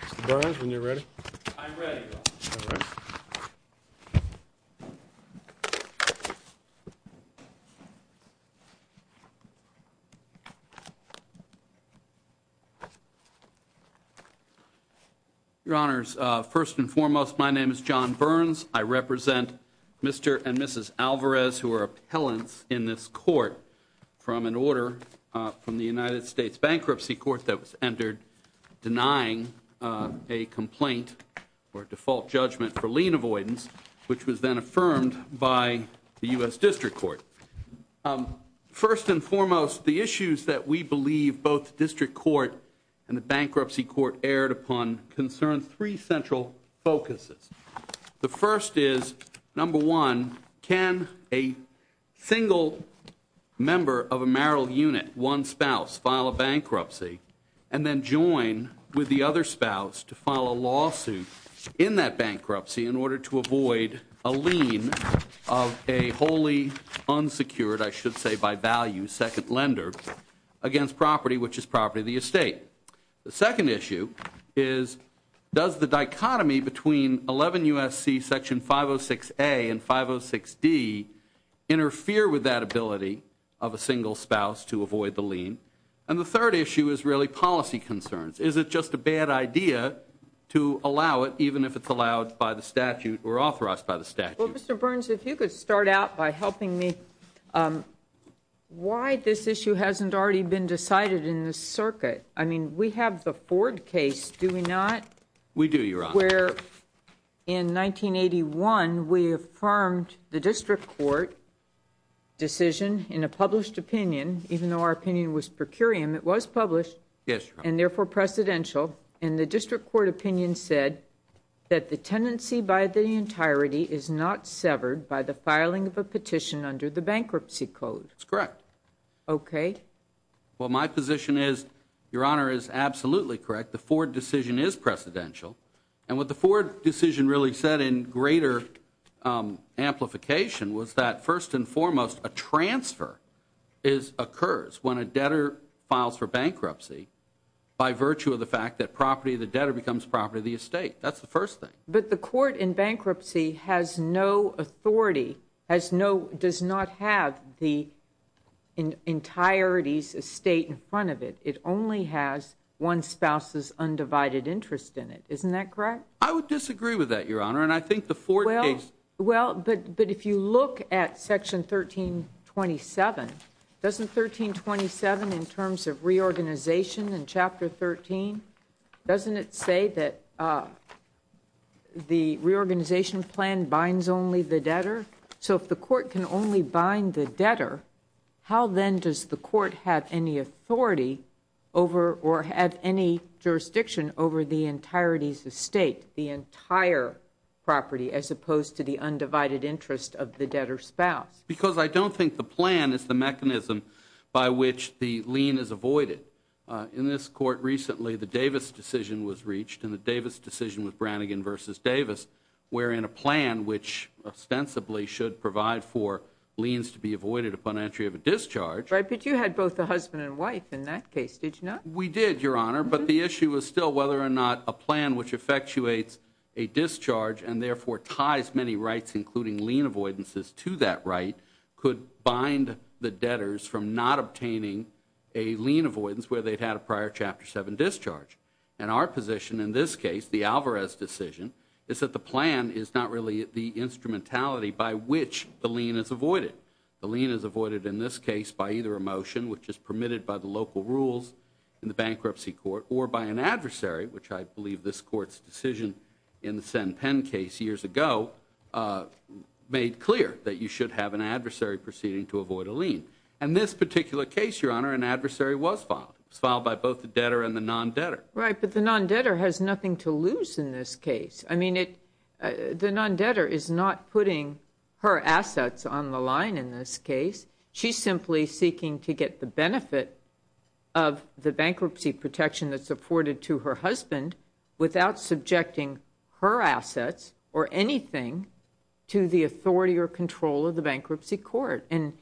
Mr. Burns, when you're ready. I'm ready, Your Honor. Your Honors, first and foremost, my name is John Burns. I represent Mr. and Mrs. Alvarez, who are appellants in this court, from an order from the United States Bankruptcy Court that was entered denying a complaint or default judgment for lien avoidance, which was then affirmed by the U.S. District Court. First and foremost, the issues that we believe both the District Court and the Bankruptcy Court aired upon concern three central focuses. The first is, number one, can a single member of a marital unit, one spouse, file a bankruptcy and then join with the other spouse to file a lawsuit in that bankruptcy in order to avoid a lien of a wholly unsecured, I should say by value, second lender against property, which is property of the estate. The second issue is, does the dichotomy between 11 U.S.C. Section 506A and 506D interfere with that ability of a single spouse to avoid the lien? And the third issue is really policy concerns. Is it just a bad idea to allow it, even if it's allowed by the statute or authorized by the statute? Well, Mr. Burns, if you could start out by helping me why this issue hasn't already been decided in this circuit. I mean, we have the Ford case, do we not? We do, Your Honor. Where in 1981 we affirmed the District Court decision in a published opinion, even though our opinion was per curiam, it was published. Yes, Your Honor. And therefore precedential, and the District Court opinion said that the tenancy by the entirety is not severed by the filing of a petition under the bankruptcy code. That's correct. Okay. Well, my position is, Your Honor, is absolutely correct. The Ford decision is precedential. And what the Ford decision really said in greater amplification was that, first and foremost, a transfer occurs when a debtor files for bankruptcy by virtue of the fact that property of the debtor becomes property of the estate. That's the first thing. But the court in bankruptcy has no authority, has no, does not have the entirety's estate in front of it. It only has one spouse's undivided interest in it. Isn't that correct? I would disagree with that, Your Honor, and I think the Ford case Well, but if you look at Section 1327, doesn't 1327 in terms of reorganization in Chapter 13, doesn't it say that the reorganization plan binds only the debtor? So if the court can only bind the debtor, how then does the court have any authority over or have any jurisdiction over the entirety's estate, the entire property, as opposed to the undivided interest of the debtor's spouse? Because I don't think the plan is the mechanism by which the lien is avoided. In this court recently, the Davis decision was reached, and the Davis decision with Brannigan v. Davis wherein a plan which ostensibly should provide for liens to be avoided upon entry of a discharge Right, but you had both the husband and wife in that case, did you not? We did, Your Honor, but the issue is still whether or not a plan which effectuates a discharge and therefore ties many rights including lien avoidances to that right could bind the debtors from not obtaining a lien avoidance where they'd had a prior Chapter 7 discharge. And our position in this case, the Alvarez decision, is that the plan is not really the instrumentality by which the lien is avoided. The lien is avoided in this case by either a motion, which is permitted by the local rules in the bankruptcy court, or by an adversary, which I believe this court's decision in the Sen Penn case years ago made clear that you should have an adversary proceeding to avoid a lien. And this particular case, Your Honor, an adversary was filed. It was filed by both the debtor and the non-debtor. Right, but the non-debtor has nothing to lose in this case. I mean, the non-debtor is not putting her assets on the line in this case. She's simply seeking to get the benefit of the bankruptcy protection that's afforded to her husband without subjecting her assets or anything to the authority or control of the bankruptcy court. And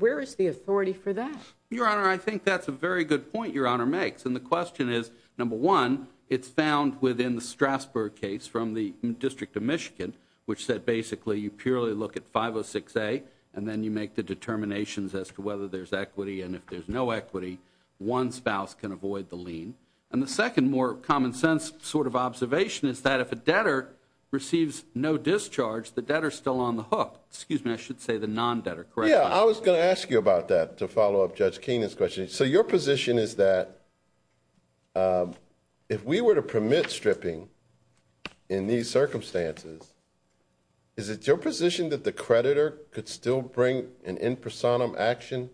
where is the authority for that? Your Honor, I think that's a very good point Your Honor makes. And the question is, number one, it's found within the Strasburg case from the District of Michigan, which said basically you purely look at 506A, and then you make the determinations as to whether there's equity, and if there's no equity, one spouse can avoid the lien. And the second more common sense sort of observation is that if a debtor receives no discharge, the debtor's still on the hook. Excuse me, I should say the non-debtor, correct? Yeah, I was going to ask you about that to follow up Judge Keenan's question. So your position is that if we were to permit stripping in these circumstances, is it your position that the creditor could still bring an in personam action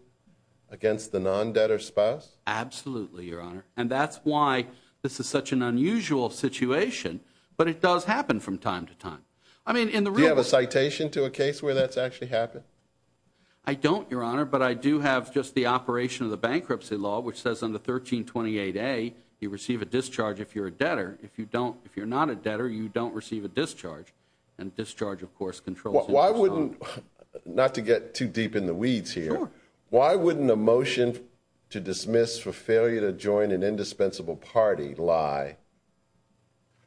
against the non-debtor spouse? Absolutely, Your Honor. And that's why this is such an unusual situation, but it does happen from time to time. Do you have a citation to a case where that's actually happened? I don't, Your Honor, but I do have just the operation of the bankruptcy law, which says on the 1328A, you receive a discharge if you're a debtor. If you're not a debtor, you don't receive a discharge. And discharge, of course, controls. Why wouldn't, not to get too deep in the weeds here, why wouldn't a motion to dismiss for failure to join an indispensable party lie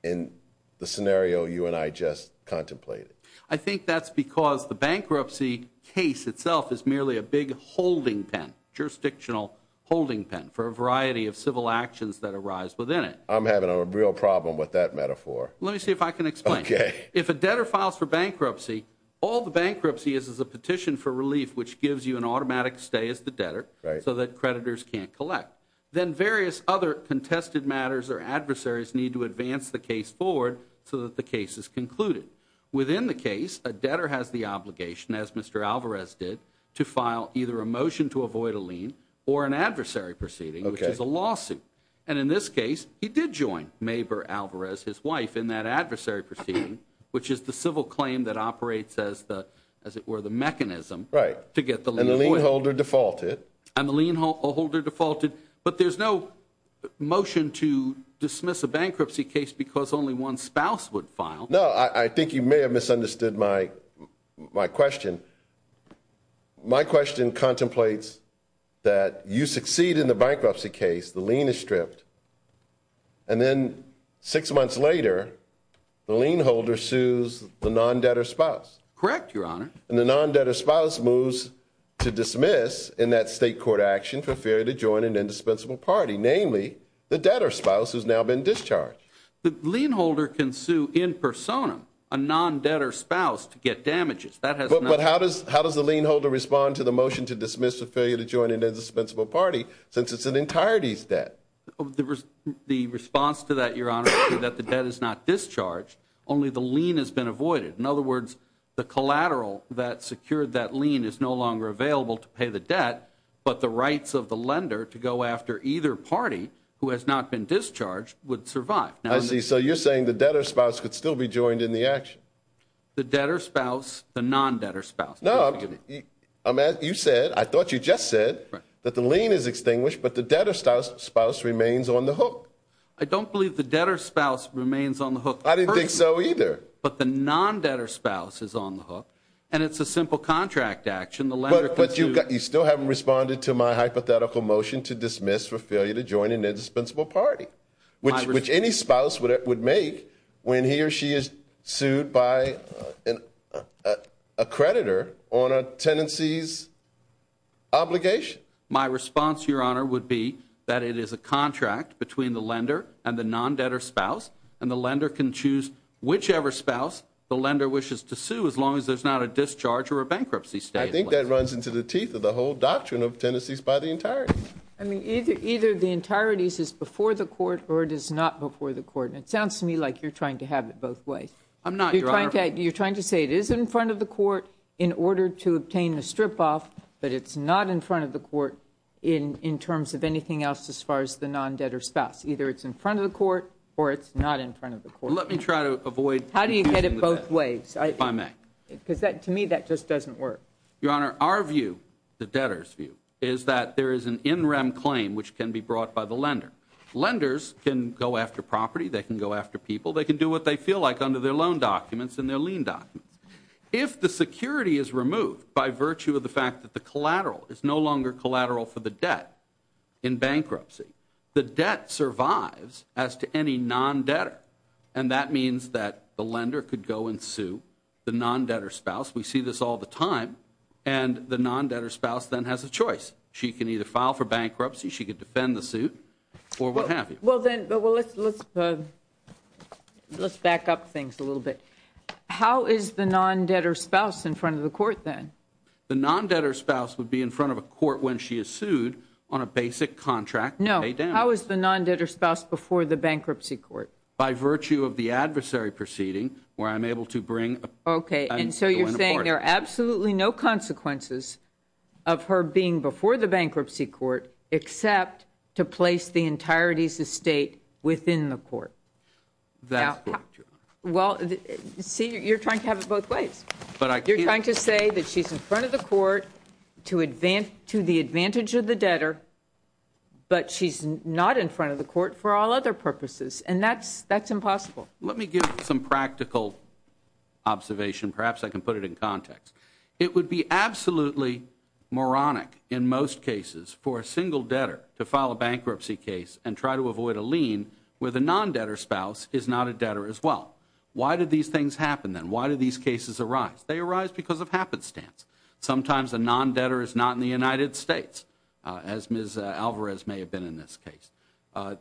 in the scenario you and I just contemplated? I think that's because the bankruptcy case itself is merely a big holding pen, jurisdictional holding pen for a variety of civil actions that arise within it. I'm having a real problem with that metaphor. Let me see if I can explain. Okay. If a debtor files for bankruptcy, all the bankruptcy is is a petition for relief, which gives you an automatic stay as the debtor so that creditors can't collect. Then various other contested matters or adversaries need to advance the case forward so that the case is concluded. Within the case, a debtor has the obligation, as Mr. Alvarez did, to file either a motion to avoid a lien or an adversary proceeding, which is a lawsuit. And in this case, he did join Maber Alvarez, his wife, in that adversary proceeding, which is the civil claim that operates as the, as it were, the mechanism. Right. To get the lien avoided. And the lien holder defaulted. And the lien holder defaulted. But there's no motion to dismiss a bankruptcy case because only one spouse would file. No, I think you may have misunderstood my question. My question contemplates that you succeed in the bankruptcy case, the lien is stripped, and then six months later, the lien holder sues the non-debtor spouse. Correct, Your Honor. And the non-debtor spouse moves to dismiss in that state court action for failure to join an indispensable party, namely the debtor spouse who's now been discharged. The lien holder can sue in persona a non-debtor spouse to get damages. But how does the lien holder respond to the motion to dismiss a failure to join an indispensable party since it's an entirety's debt? The response to that, Your Honor, is that the debt is not discharged, only the lien has been avoided. In other words, the collateral that secured that lien is no longer available to pay the debt, but the rights of the lender to go after either party who has not been discharged would survive. I see. So you're saying the debtor spouse could still be joined in the action. The debtor spouse, the non-debtor spouse. No, you said, I thought you just said that the lien is extinguished, but the debtor spouse remains on the hook. I don't believe the debtor spouse remains on the hook. I didn't think so either. But the non-debtor spouse is on the hook, and it's a simple contract action. But you still haven't responded to my hypothetical motion to dismiss for failure to join an indispensable party, which any spouse would make when he or she is sued by a creditor on a tenancy's obligation. My response, Your Honor, would be that it is a contract between the lender and the non-debtor spouse, and the lender can choose whichever spouse the lender wishes to sue as long as there's not a discharge or a bankruptcy statement. I think that runs into the teeth of the whole doctrine of tenancies by the entirety. I mean, either the entirety is before the court or it is not before the court. And it sounds to me like you're trying to have it both ways. I'm not, Your Honor. You're trying to say it is in front of the court in order to obtain a strip-off, but it's not in front of the court in terms of anything else as far as the non-debtor spouse. Either it's in front of the court or it's not in front of the court. Let me try to avoid confusing the two. How do you get it both ways? If I may. Because to me, that just doesn't work. Your Honor, our view, the debtor's view, is that there is an in-rem claim which can be brought by the lender. Lenders can go after property. They can go after people. They can do what they feel like under their loan documents and their lien documents. If the security is removed by virtue of the fact that the collateral is no longer collateral for the debt in bankruptcy, the debt survives as to any non-debtor, and that means that the lender could go and sue the non-debtor spouse. We see this all the time. And the non-debtor spouse then has a choice. She can either file for bankruptcy, she could defend the suit, or what have you. Well, then, let's back up things a little bit. How is the non-debtor spouse in front of the court then? The non-debtor spouse would be in front of a court when she is sued on a basic contract to pay down. No. How is the non-debtor spouse before the bankruptcy court? By virtue of the adversary proceeding where I'm able to bring. Okay, and so you're saying there are absolutely no consequences of her being before the bankruptcy court except to place the entirety of the state within the court. That's correct, Your Honor. Well, see, you're trying to have it both ways. You're trying to say that she's in front of the court to the advantage of the debtor, but she's not in front of the court for all other purposes, and that's impossible. Let me give some practical observation. Perhaps I can put it in context. It would be absolutely moronic in most cases for a single debtor to file a bankruptcy case and try to avoid a lien where the non-debtor spouse is not a debtor as well. Why do these things happen then? Why do these cases arise? They arise because of happenstance. Sometimes a non-debtor is not in the United States, as Ms. Alvarez may have been in this case.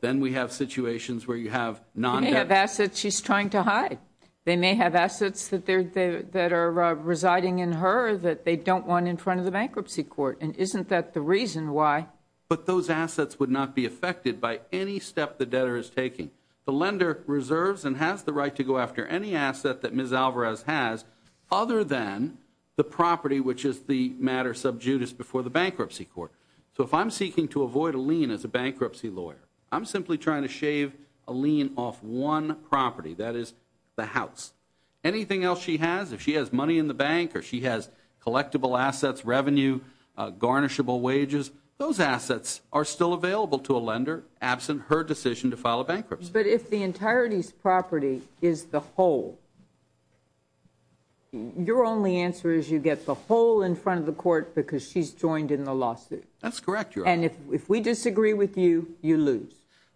Then we have situations where you have non-debtors. They may have assets she's trying to hide. They may have assets that are residing in her that they don't want in front of the bankruptcy court, and isn't that the reason why? But those assets would not be affected by any step the debtor is taking. The lender reserves and has the right to go after any asset that Ms. Alvarez has other than the property, which is the matter sub judice before the bankruptcy court. So if I'm seeking to avoid a lien as a bankruptcy lawyer, I'm simply trying to shave a lien off one property, that is, the house. Anything else she has, if she has money in the bank or she has collectible assets, revenue, garnishable wages, those assets are still available to a lender absent her decision to file a bankruptcy. But if the entirety's property is the whole, your only answer is you get the whole in front of the court because she's joined in the lawsuit. That's correct, Your Honor. And if we disagree with you, you lose.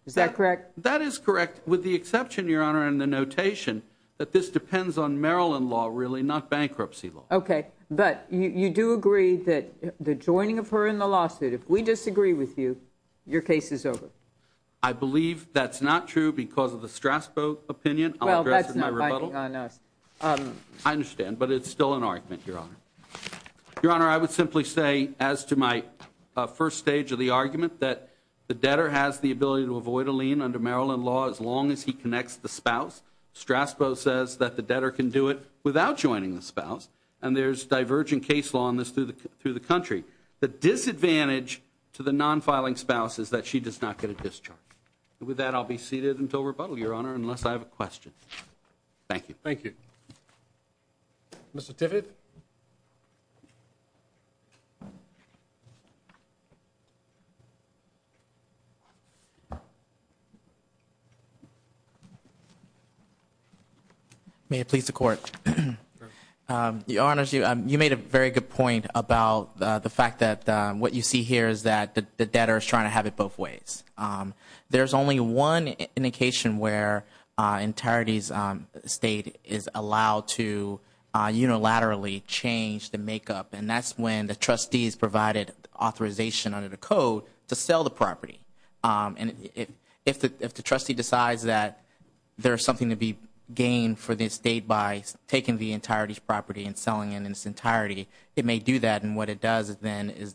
Is that correct? That is correct, with the exception, Your Honor, in the notation, that this depends on Maryland law, really, not bankruptcy law. Okay. But you do agree that the joining of her in the lawsuit, if we disagree with you, your case is over. I believe that's not true because of the Strasbourg opinion. Well, that's not binding on us. I understand, but it's still an argument, Your Honor. Your Honor, I would simply say, as to my first stage of the argument, that the debtor has the ability to avoid a lien under Maryland law as long as he connects the spouse. Strasbourg says that the debtor can do it without joining the spouse, and there's divergent case law on this through the country. The disadvantage to the non-filing spouse is that she does not get a discharge. With that, I'll be seated until rebuttal, Your Honor, unless I have a question. Thank you. Thank you. Mr. Tivitt. May it please the Court. Your Honor, you made a very good point about the fact that what you see here is that the debtor is trying to have it both ways. There's only one indication where an entirety state is allowed to unilaterally change the makeup, and that's when the trustee is provided authorization under the code to sell the property. And if the trustee decides that there's something to be gained for this state by taking the entirety's property and selling it in its entirety, it may do that. And what it does then is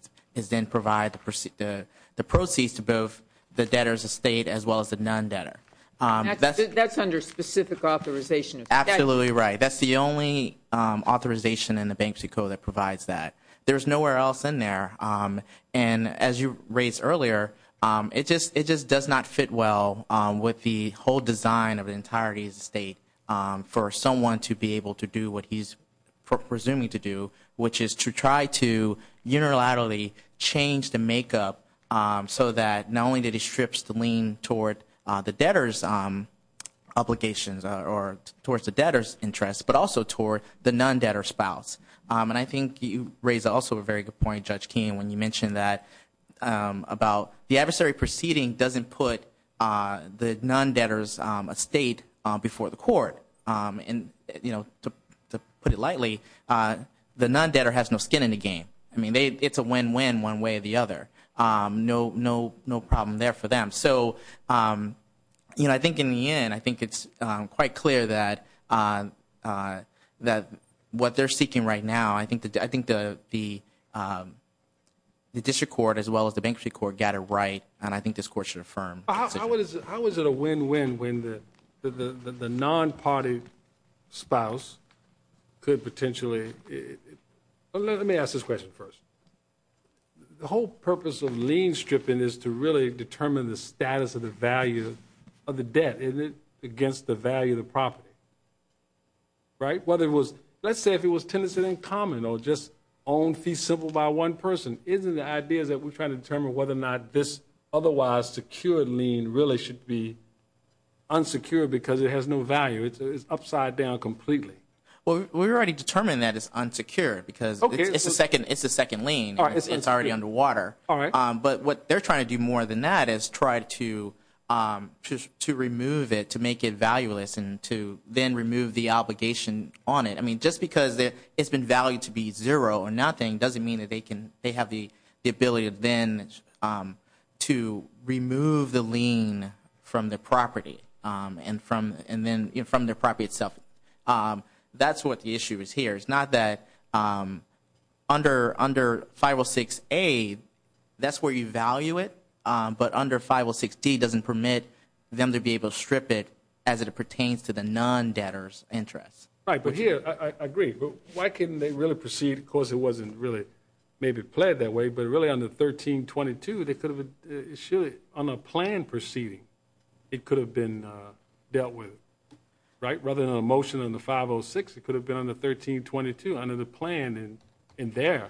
then provide the proceeds to both the debtor's estate as well as the non-debtor. That's under specific authorization. Absolutely right. That's the only authorization in the Banksy Code that provides that. There's nowhere else in there. And as you raised earlier, it just does not fit well with the whole design of the entirety of the state for someone to be able to do what he's presuming to do, which is to try to unilaterally change the makeup so that not only did he strip the lien toward the debtor's obligations or towards the debtor's interest, but also toward the non-debtor's spouse. And I think you raised also a very good point, Judge Keene, when you mentioned that about the adversary proceeding doesn't put the non-debtor's estate before the court. And to put it lightly, the non-debtor has no skin in the game. I mean, it's a win-win one way or the other. No problem there for them. So I think in the end, I think it's quite clear that what they're seeking right now, I think the district court as well as the bankruptcy court got it right, and I think this court should affirm. How is it a win-win when the non-party spouse could potentially – let me ask this question first. The whole purpose of lien stripping is to really determine the status of the value of the debt against the value of the property. Right? Let's say if it was tenancy in common or just own fee simple by one person, isn't the idea that we're trying to determine whether or not this otherwise secured lien really should be unsecured because it has no value? It's upside down completely. Well, we already determined that it's unsecured because it's a second lien. It's already under water. All right. But what they're trying to do more than that is try to remove it, to make it valueless, and to then remove the obligation on it. I mean, just because it's been valued to be zero or nothing doesn't mean that they have the ability then to remove the lien from the property and then from the property itself. That's what the issue is here. It's not that under 506A, that's where you value it, but under 506D doesn't permit them to be able to strip it as it pertains to the non-debtor's interest. Right. But here, I agree. Why couldn't they really proceed? Of course, it wasn't really maybe pled that way, but really under 1322, they could have issued it on a planned proceeding. It could have been dealt with. Right? It could have been a motion on the 506. It could have been on the 1322 under the plan in there.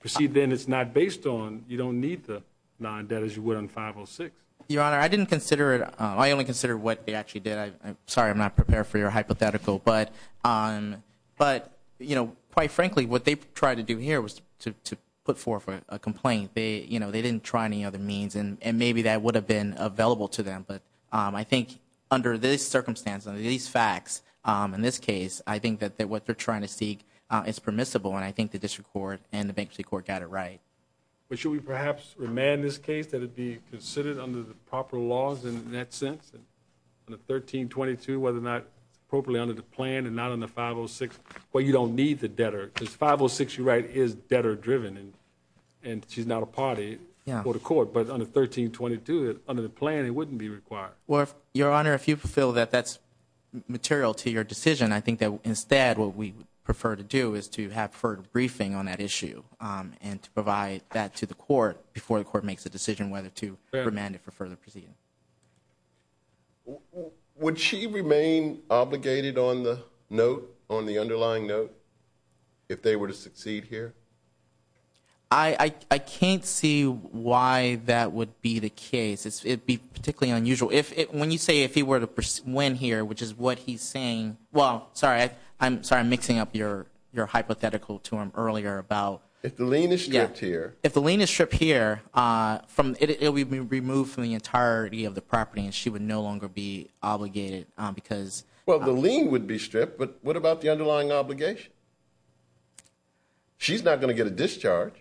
Proceed then is not based on you don't need the non-debt as you would on 506. Your Honor, I didn't consider it. I only considered what they actually did. I'm sorry I'm not prepared for your hypothetical. But, you know, quite frankly, what they tried to do here was to put forth a complaint. They didn't try any other means, and maybe that would have been available to them. But I think under this circumstance, under these facts, in this case, I think that what they're trying to seek is permissible, and I think the district court and the bankruptcy court got it right. But should we perhaps remand this case that it be considered under the proper laws in that sense? On the 1322, whether or not it's appropriately under the plan and not on the 506? Well, you don't need the debtor because 506, you're right, is debtor-driven, and she's not a party for the court. But under 1322, under the plan, it wouldn't be required. Well, Your Honor, if you feel that that's material to your decision, I think that instead what we would prefer to do is to have further briefing on that issue and to provide that to the court before the court makes a decision whether to remand it for further proceeding. Would she remain obligated on the note, on the underlying note, if they were to succeed here? I can't see why that would be the case. It would be particularly unusual. When you say if he were to win here, which is what he's saying, well, sorry, I'm mixing up your hypothetical to him earlier about ‑‑ If the lien is stripped here. If the lien is stripped here, it would be removed from the entirety of the property, and she would no longer be obligated because ‑‑ Well, the lien would be stripped, but what about the underlying obligation? She's not going to get a discharge.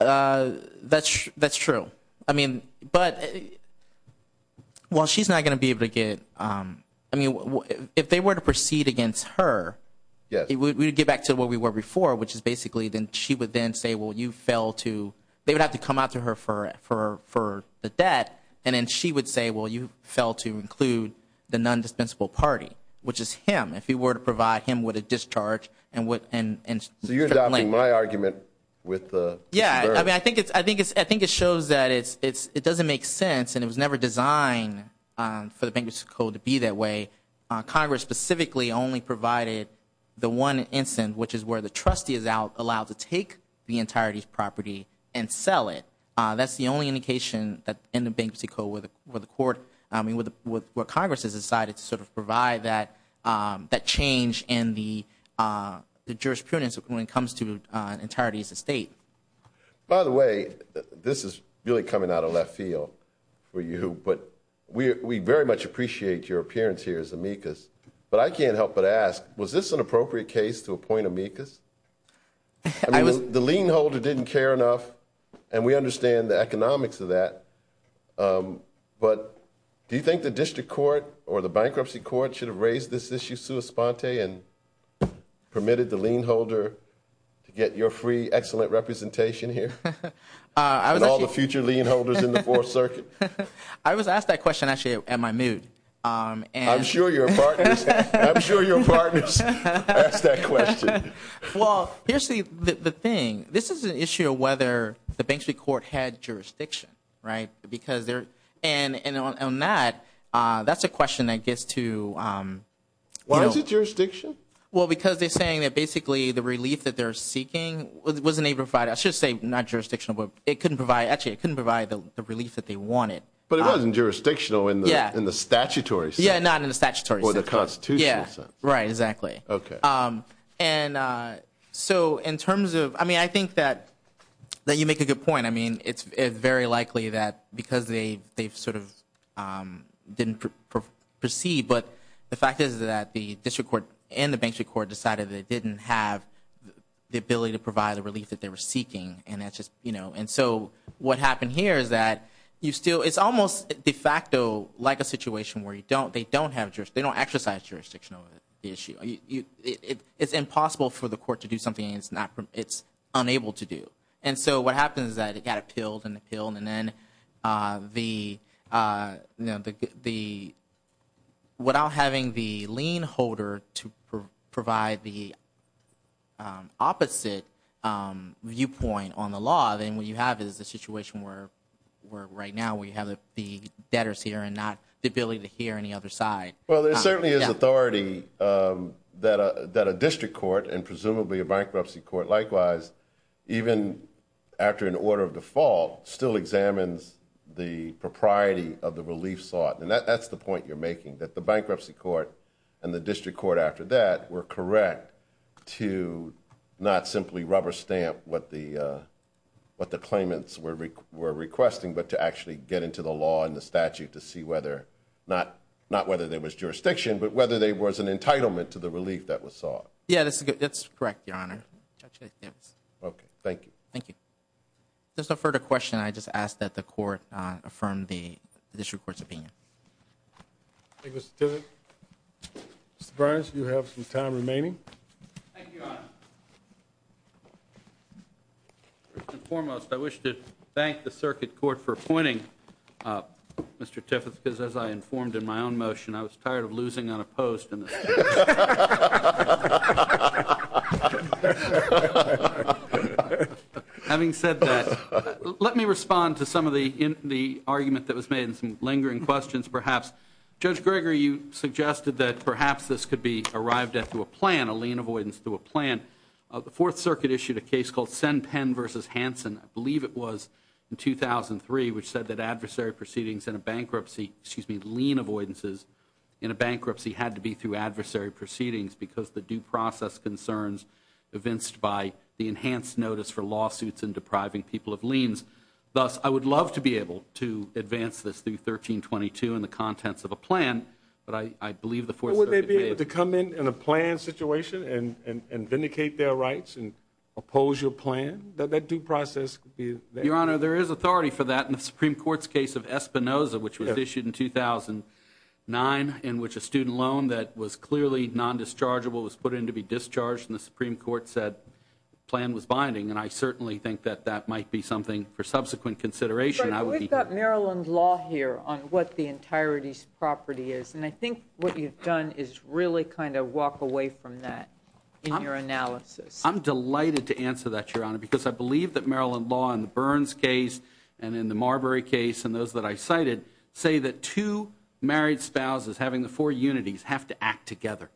That's true. I mean, but, well, she's not going to be able to get ‑‑ I mean, if they were to proceed against her, we would get back to where we were before, which is basically then she would then say, well, you failed to ‑‑ they would have to come out to her for the debt, and then she would say, well, you failed to include the nondispensable party, which is him. If you were to provide him with a discharge and ‑‑ So you're adopting my argument with the ‑‑ Yeah, I mean, I think it shows that it doesn't make sense, and it was never designed for the Bankruptcy Code to be that way. Congress specifically only provided the one instance, which is where the trustee is allowed to take the entirety of the property and sell it. That's the only indication in the Bankruptcy Code where the court ‑‑ I mean, where Congress has decided to sort of provide that change in the jurisprudence when it comes to entirety as a state. By the way, this is really coming out of left field for you, but we very much appreciate your appearance here as amicus, but I can't help but ask, was this an appropriate case to appoint amicus? I mean, the lien holder didn't care enough, and we understand the economics of that, but do you think the District Court or the Bankruptcy Court should have raised this issue sua sponte and permitted the lien holder to get your free, excellent representation here? And all the future lien holders in the Fourth Circuit? I was asked that question, actually, at my mood. I'm sure your partners asked that question. Well, here's the thing. This is an issue of whether the Bankruptcy Court had jurisdiction, right? Because there ‑‑ and on that, that's a question that gets to ‑‑ Why is it jurisdiction? Well, because they're saying that basically the relief that they're seeking was a neighbor fight. I should say not jurisdictional, but it couldn't provide ‑‑ actually, it couldn't provide the relief that they wanted. But it wasn't jurisdictional in the statutory sense. Yeah, not in the statutory sense. Or the constitutional sense. Right, exactly. Okay. And so in terms of ‑‑ I mean, I think that you make a good point. I mean, it's very likely that because they sort of didn't proceed, but the fact is that the District Court and the Bankruptcy Court decided that they didn't have the ability to provide the relief that they were seeking, and so what happened here is that you still ‑‑ it's almost de facto like a situation where they don't have jurisdiction. They don't exercise jurisdiction over the issue. It's impossible for the court to do something it's unable to do. And so what happens is that it got appealed and appealed, the ‑‑ without having the lien holder to provide the opposite viewpoint on the law, then what you have is a situation where right now we have the debtors here and not the ability to hear any other side. Well, there certainly is authority that a District Court and presumably a Bankruptcy Court likewise, even after an order of default, still examines the propriety of the relief sought, and that's the point you're making, that the Bankruptcy Court and the District Court after that were correct to not simply rubber stamp what the claimants were requesting but to actually get into the law and the statute to see whether ‑‑ not whether there was jurisdiction, but whether there was an entitlement to the relief that was sought. Yeah, that's correct, Your Honor. Okay, thank you. Thank you. If there's no further question, I just ask that the court affirm the District Court's opinion. Thank you, Mr. Tiffith. Mr. Brines, you have some time remaining. Thank you, Your Honor. First and foremost, I wish to thank the Circuit Court for appointing Mr. Tiffith because as I informed in my own motion, I was tired of losing on a post. I'm tired of losing on a post in this case. Having said that, let me respond to some of the argument that was made and some lingering questions perhaps. Judge Gregory, you suggested that perhaps this could be arrived at through a plan, a lien avoidance through a plan. The Fourth Circuit issued a case called Sen Penn v. Hansen, I believe it was, in 2003, which said that adversary proceedings in a bankruptcy, excuse me, lien avoidances in a bankruptcy had to be through adversary proceedings because the due process concerns evinced by the enhanced notice for lawsuits and depriving people of liens. Thus, I would love to be able to advance this through 1322 in the contents of a plan, but I believe the Fourth Circuit made it. Would they be able to come in in a planned situation and vindicate their rights and oppose your plan? That due process could be there. Your Honor, there is authority for that in the Supreme Court's case of Espinoza, which was issued in 2009 in which a student loan that was clearly nondischargeable was put in to be discharged, and the Supreme Court said the plan was binding, and I certainly think that that might be something for subsequent consideration. We've got Maryland law here on what the entirety's property is, and I think what you've done is really kind of walk away from that in your analysis. I'm delighted to answer that, Your Honor, because I believe that Maryland law in the Burns case and in the Marbury case and those that I cited say that two married spouses having the four unities have to act together,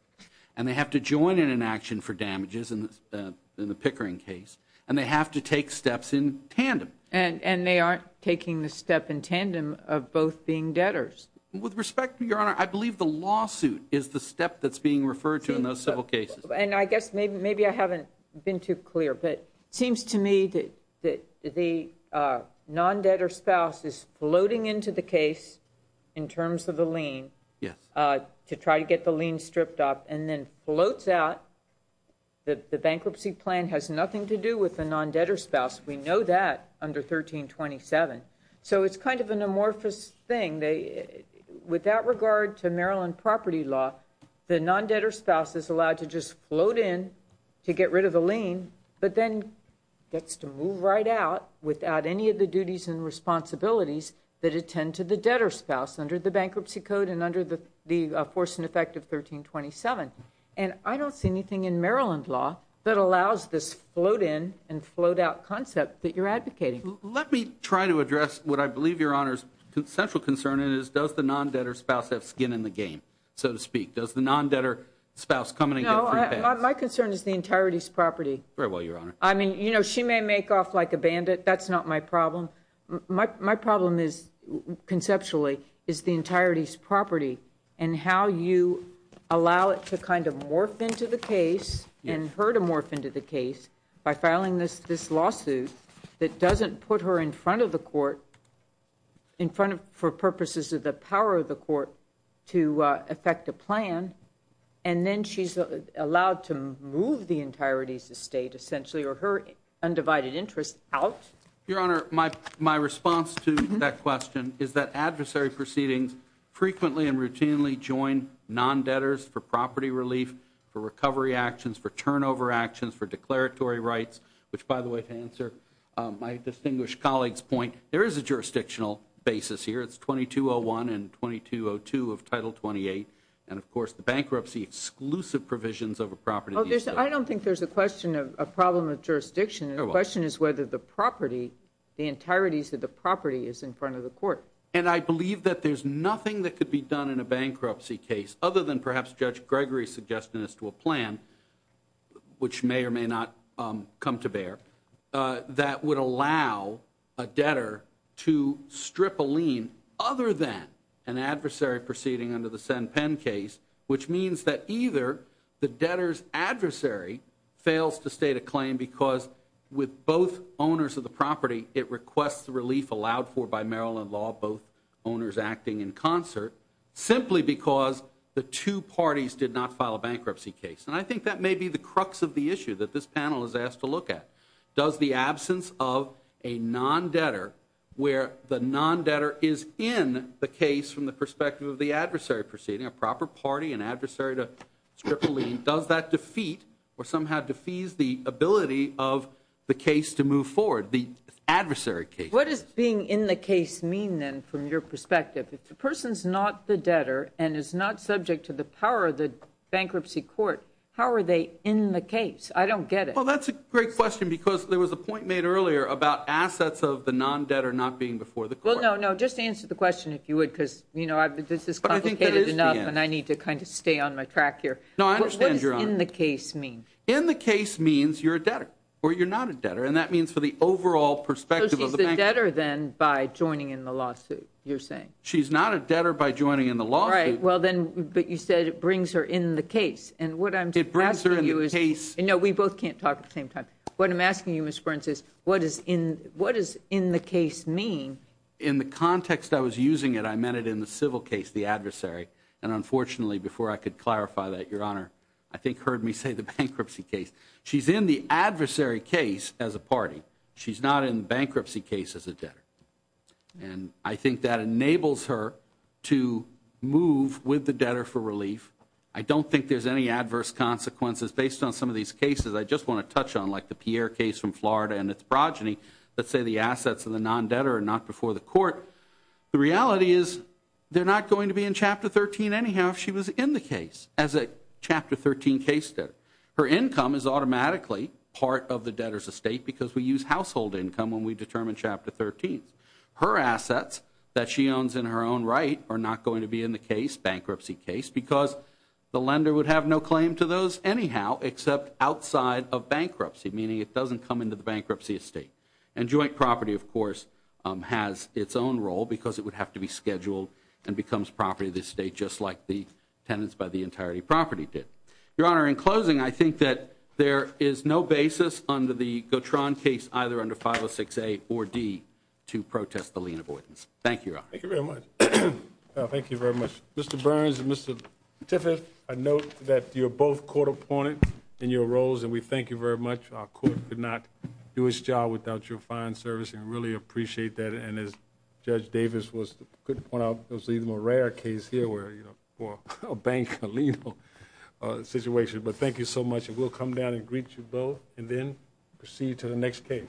and they have to join in an action for damages in the Pickering case, and they have to take steps in tandem. And they aren't taking the step in tandem of both being debtors. With respect, Your Honor, I believe the lawsuit is the step that's being referred to in those civil cases. And I guess maybe I haven't been too clear, but it seems to me that the non-debtor spouse is floating into the case in terms of the lien to try to get the lien stripped off and then floats out. The bankruptcy plan has nothing to do with the non-debtor spouse. We know that under 1327. So it's kind of an amorphous thing. Without regard to Maryland property law, the non-debtor spouse is allowed to just float in to get rid of the lien, but then gets to move right out without any of the duties and responsibilities that attend to the debtor spouse under the bankruptcy code and under the force and effect of 1327. And I don't see anything in Maryland law that allows this float in and float out concept that you're advocating. Let me try to address what I believe, Your Honor, is the central concern, and it is does the non-debtor spouse have skin in the game, so to speak? Does the non-debtor spouse come in and get free pay? My concern is the entirety's property. Very well, Your Honor. I mean, you know, she may make off like a bandit. That's not my problem. My problem is, conceptually, is the entirety's property and how you allow it to kind of morph into the case and her to morph into the case by filing this lawsuit that doesn't put her in front of the court for purposes of the power of the court to effect a plan, and then she's allowed to move the entirety's estate essentially or her undivided interest out? Your Honor, my response to that question is that adversary proceedings frequently and routinely join non-debtors for property relief, for recovery actions, for turnover actions, for declaratory rights, which, by the way, to answer my distinguished colleague's point, there is a jurisdictional basis here. It's 2201 and 2202 of Title 28, and, of course, the bankruptcy exclusive provisions of a property. I don't think there's a question of a problem of jurisdiction. The question is whether the property, the entirety's of the property is in front of the court. And I believe that there's nothing that could be done in a bankruptcy case, other than perhaps Judge Gregory's suggestion as to a plan, which may or may not come to bear, that would allow a debtor to strip a lien other than an adversary proceeding under the Sen Penn case, which means that either the debtor's adversary fails to state a claim because with both owners of the property it requests the relief allowed for by Maryland law, both owners acting in concert, simply because the two parties did not file a bankruptcy case. And I think that may be the crux of the issue that this panel is asked to look at. Does the absence of a non-debtor where the non-debtor is in the case from the perspective of the adversary proceeding, a proper party, an adversary to strip a lien, does that defeat or somehow defease the ability of the case to move forward, the adversary case? What does being in the case mean, then, from your perspective? If the person's not the debtor and is not subject to the power of the bankruptcy court, how are they in the case? I don't get it. Well, that's a great question because there was a point made earlier about assets of the non-debtor not being before the court. Well, no, no. Just answer the question, if you would, because, you know, this is complicated enough. But I think that is the answer. And I need to kind of stay on my track here. No, I understand, Your Honor. But what does in the case mean? In the case means you're a debtor or you're not a debtor, and that means for the overall perspective of the bankruptcy. So she's the debtor, then, by joining in the lawsuit, you're saying? She's not a debtor by joining in the lawsuit. Right. Well, then, but you said it brings her in the case. And what I'm asking you is – It brings her in the case. No, we both can't talk at the same time. What I'm asking you, Ms. Burns, is what does in the case mean? In the context I was using it, I meant it in the civil case, the adversary. And, unfortunately, before I could clarify that, Your Honor, I think heard me say the bankruptcy case. She's in the adversary case as a party. She's not in the bankruptcy case as a debtor. And I think that enables her to move with the debtor for relief. I don't think there's any adverse consequences based on some of these cases. I just want to touch on, like, the Pierre case from Florida and its progeny. Let's say the assets of the non-debtor are not before the court. The reality is they're not going to be in Chapter 13 anyhow if she was in the case as a Chapter 13 case debtor. Her income is automatically part of the debtor's estate because we use household income when we determine Chapter 13. Her assets that she owns in her own right are not going to be in the case, bankruptcy case, because the lender would have no claim to those anyhow except outside of bankruptcy, meaning it doesn't come into the bankruptcy estate. And joint property, of course, has its own role because it would have to be scheduled and becomes property of the estate just like the tenants by the entirety of property did. Your Honor, in closing, I think that there is no basis under the Gautron case, either under 506A or D, to protest the lien avoidance. Thank you, Your Honor. Thank you very much. Thank you very much. Mr. Burns and Mr. Tiffin, I note that you're both court appointed in your roles, and we thank you very much. Our court could not do its job without your fine service and really appreciate that. And as Judge Davis could point out, it was even a rare case here for a bank lien situation. But thank you so much, and we'll come down and greet you both and then proceed to the next case. Thank you.